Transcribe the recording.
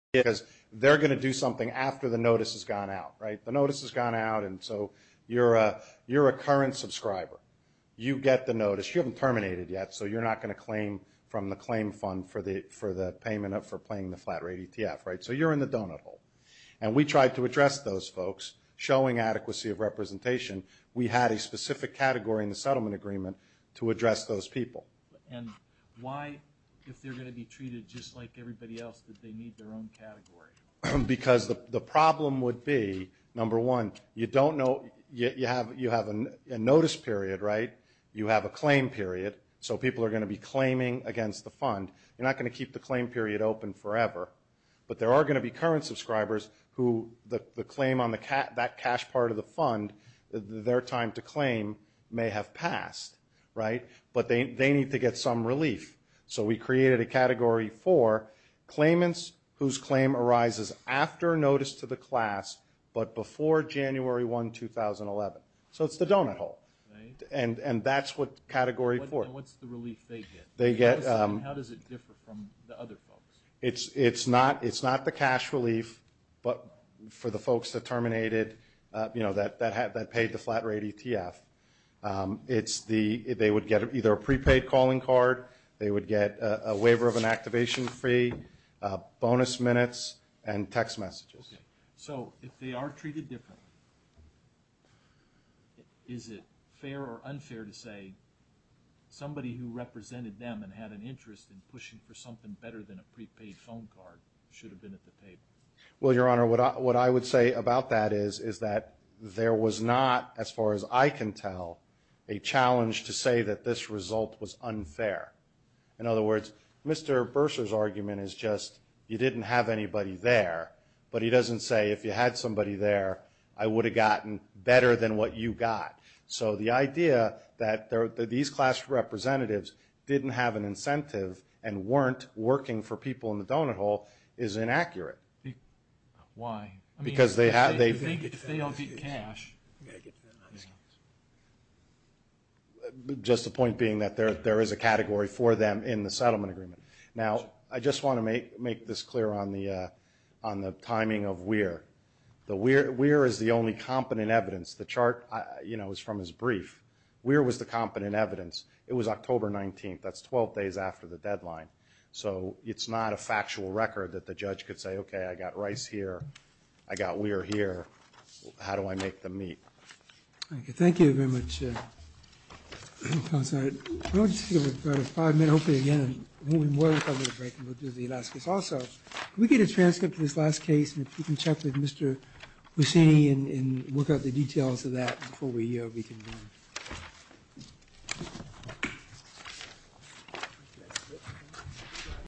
because they're going to do something after the notice has gone out. The notice has gone out and so you're a current subscriber. You get the notice. You haven't terminated yet so you're not going to claim from the claim fund for the payment for playing the flat rate ETF. So you're in the donut hole. And we tried to address those folks showing adequacy of representation. We had a specific category in the settlement agreement to address those people. And why, if they're going to be treated just like everybody else, did they need their own category? Because the problem would be, number one, you have a notice period, right? You have a claim period. So people are going to be claiming against the fund. You're not going to keep the claim period open forever. But there are going to be current subscribers who the claim on that cash part of the fund, their time to claim may have passed, right? But they need to get some relief. So we created a category for claimants whose claim arises after notice to the class but before January 1, 2011. So it's the donut hole. And that's what category 4. And what's the relief they get? How does it differ from the other folks? It's not the cash relief, but for the folks that terminated, that paid the flat rate ETF, it's the, they would get either a prepaid calling card, they would get a waiver of an activation fee, bonus minutes, and text messages. So if they are treated differently, is it fair or unfair to say somebody who represented them and had an interest in pushing for something better than a prepaid phone card should have been at the table? Well, Your Honor, what I would say about that is, is that there was not, as far as I can tell, a challenge to say that this result was unfair. In other words, Mr. Bursar's argument is just you didn't have anybody there, but he doesn't say if you had somebody there, I would have gotten better than what you got. So the idea that these class representatives didn't have an incentive and weren't working for people in the donut hole is inaccurate. Why? Because they have, they've... You think if they don't get cash... Just the point being that there is a category for them in the settlement agreement. Now, I just want to make this clear on the timing of WEIR. WEIR is the only competent evidence. The chart, you know, is from his brief. WEIR was the competent evidence. It was October 19th. That's 12 days after the deadline. So it's not a factual record that the judge could say, okay, I got Rice here. I got WEIR here. How do I make them meet? Thank you very much, Counselor. We'll just give it about five minutes, hopefully again, and then we'll be more comfortable to break and we'll do the last case. Also, can we get a transcript of this last case and if you can check with Mr. Mussini and work out the case?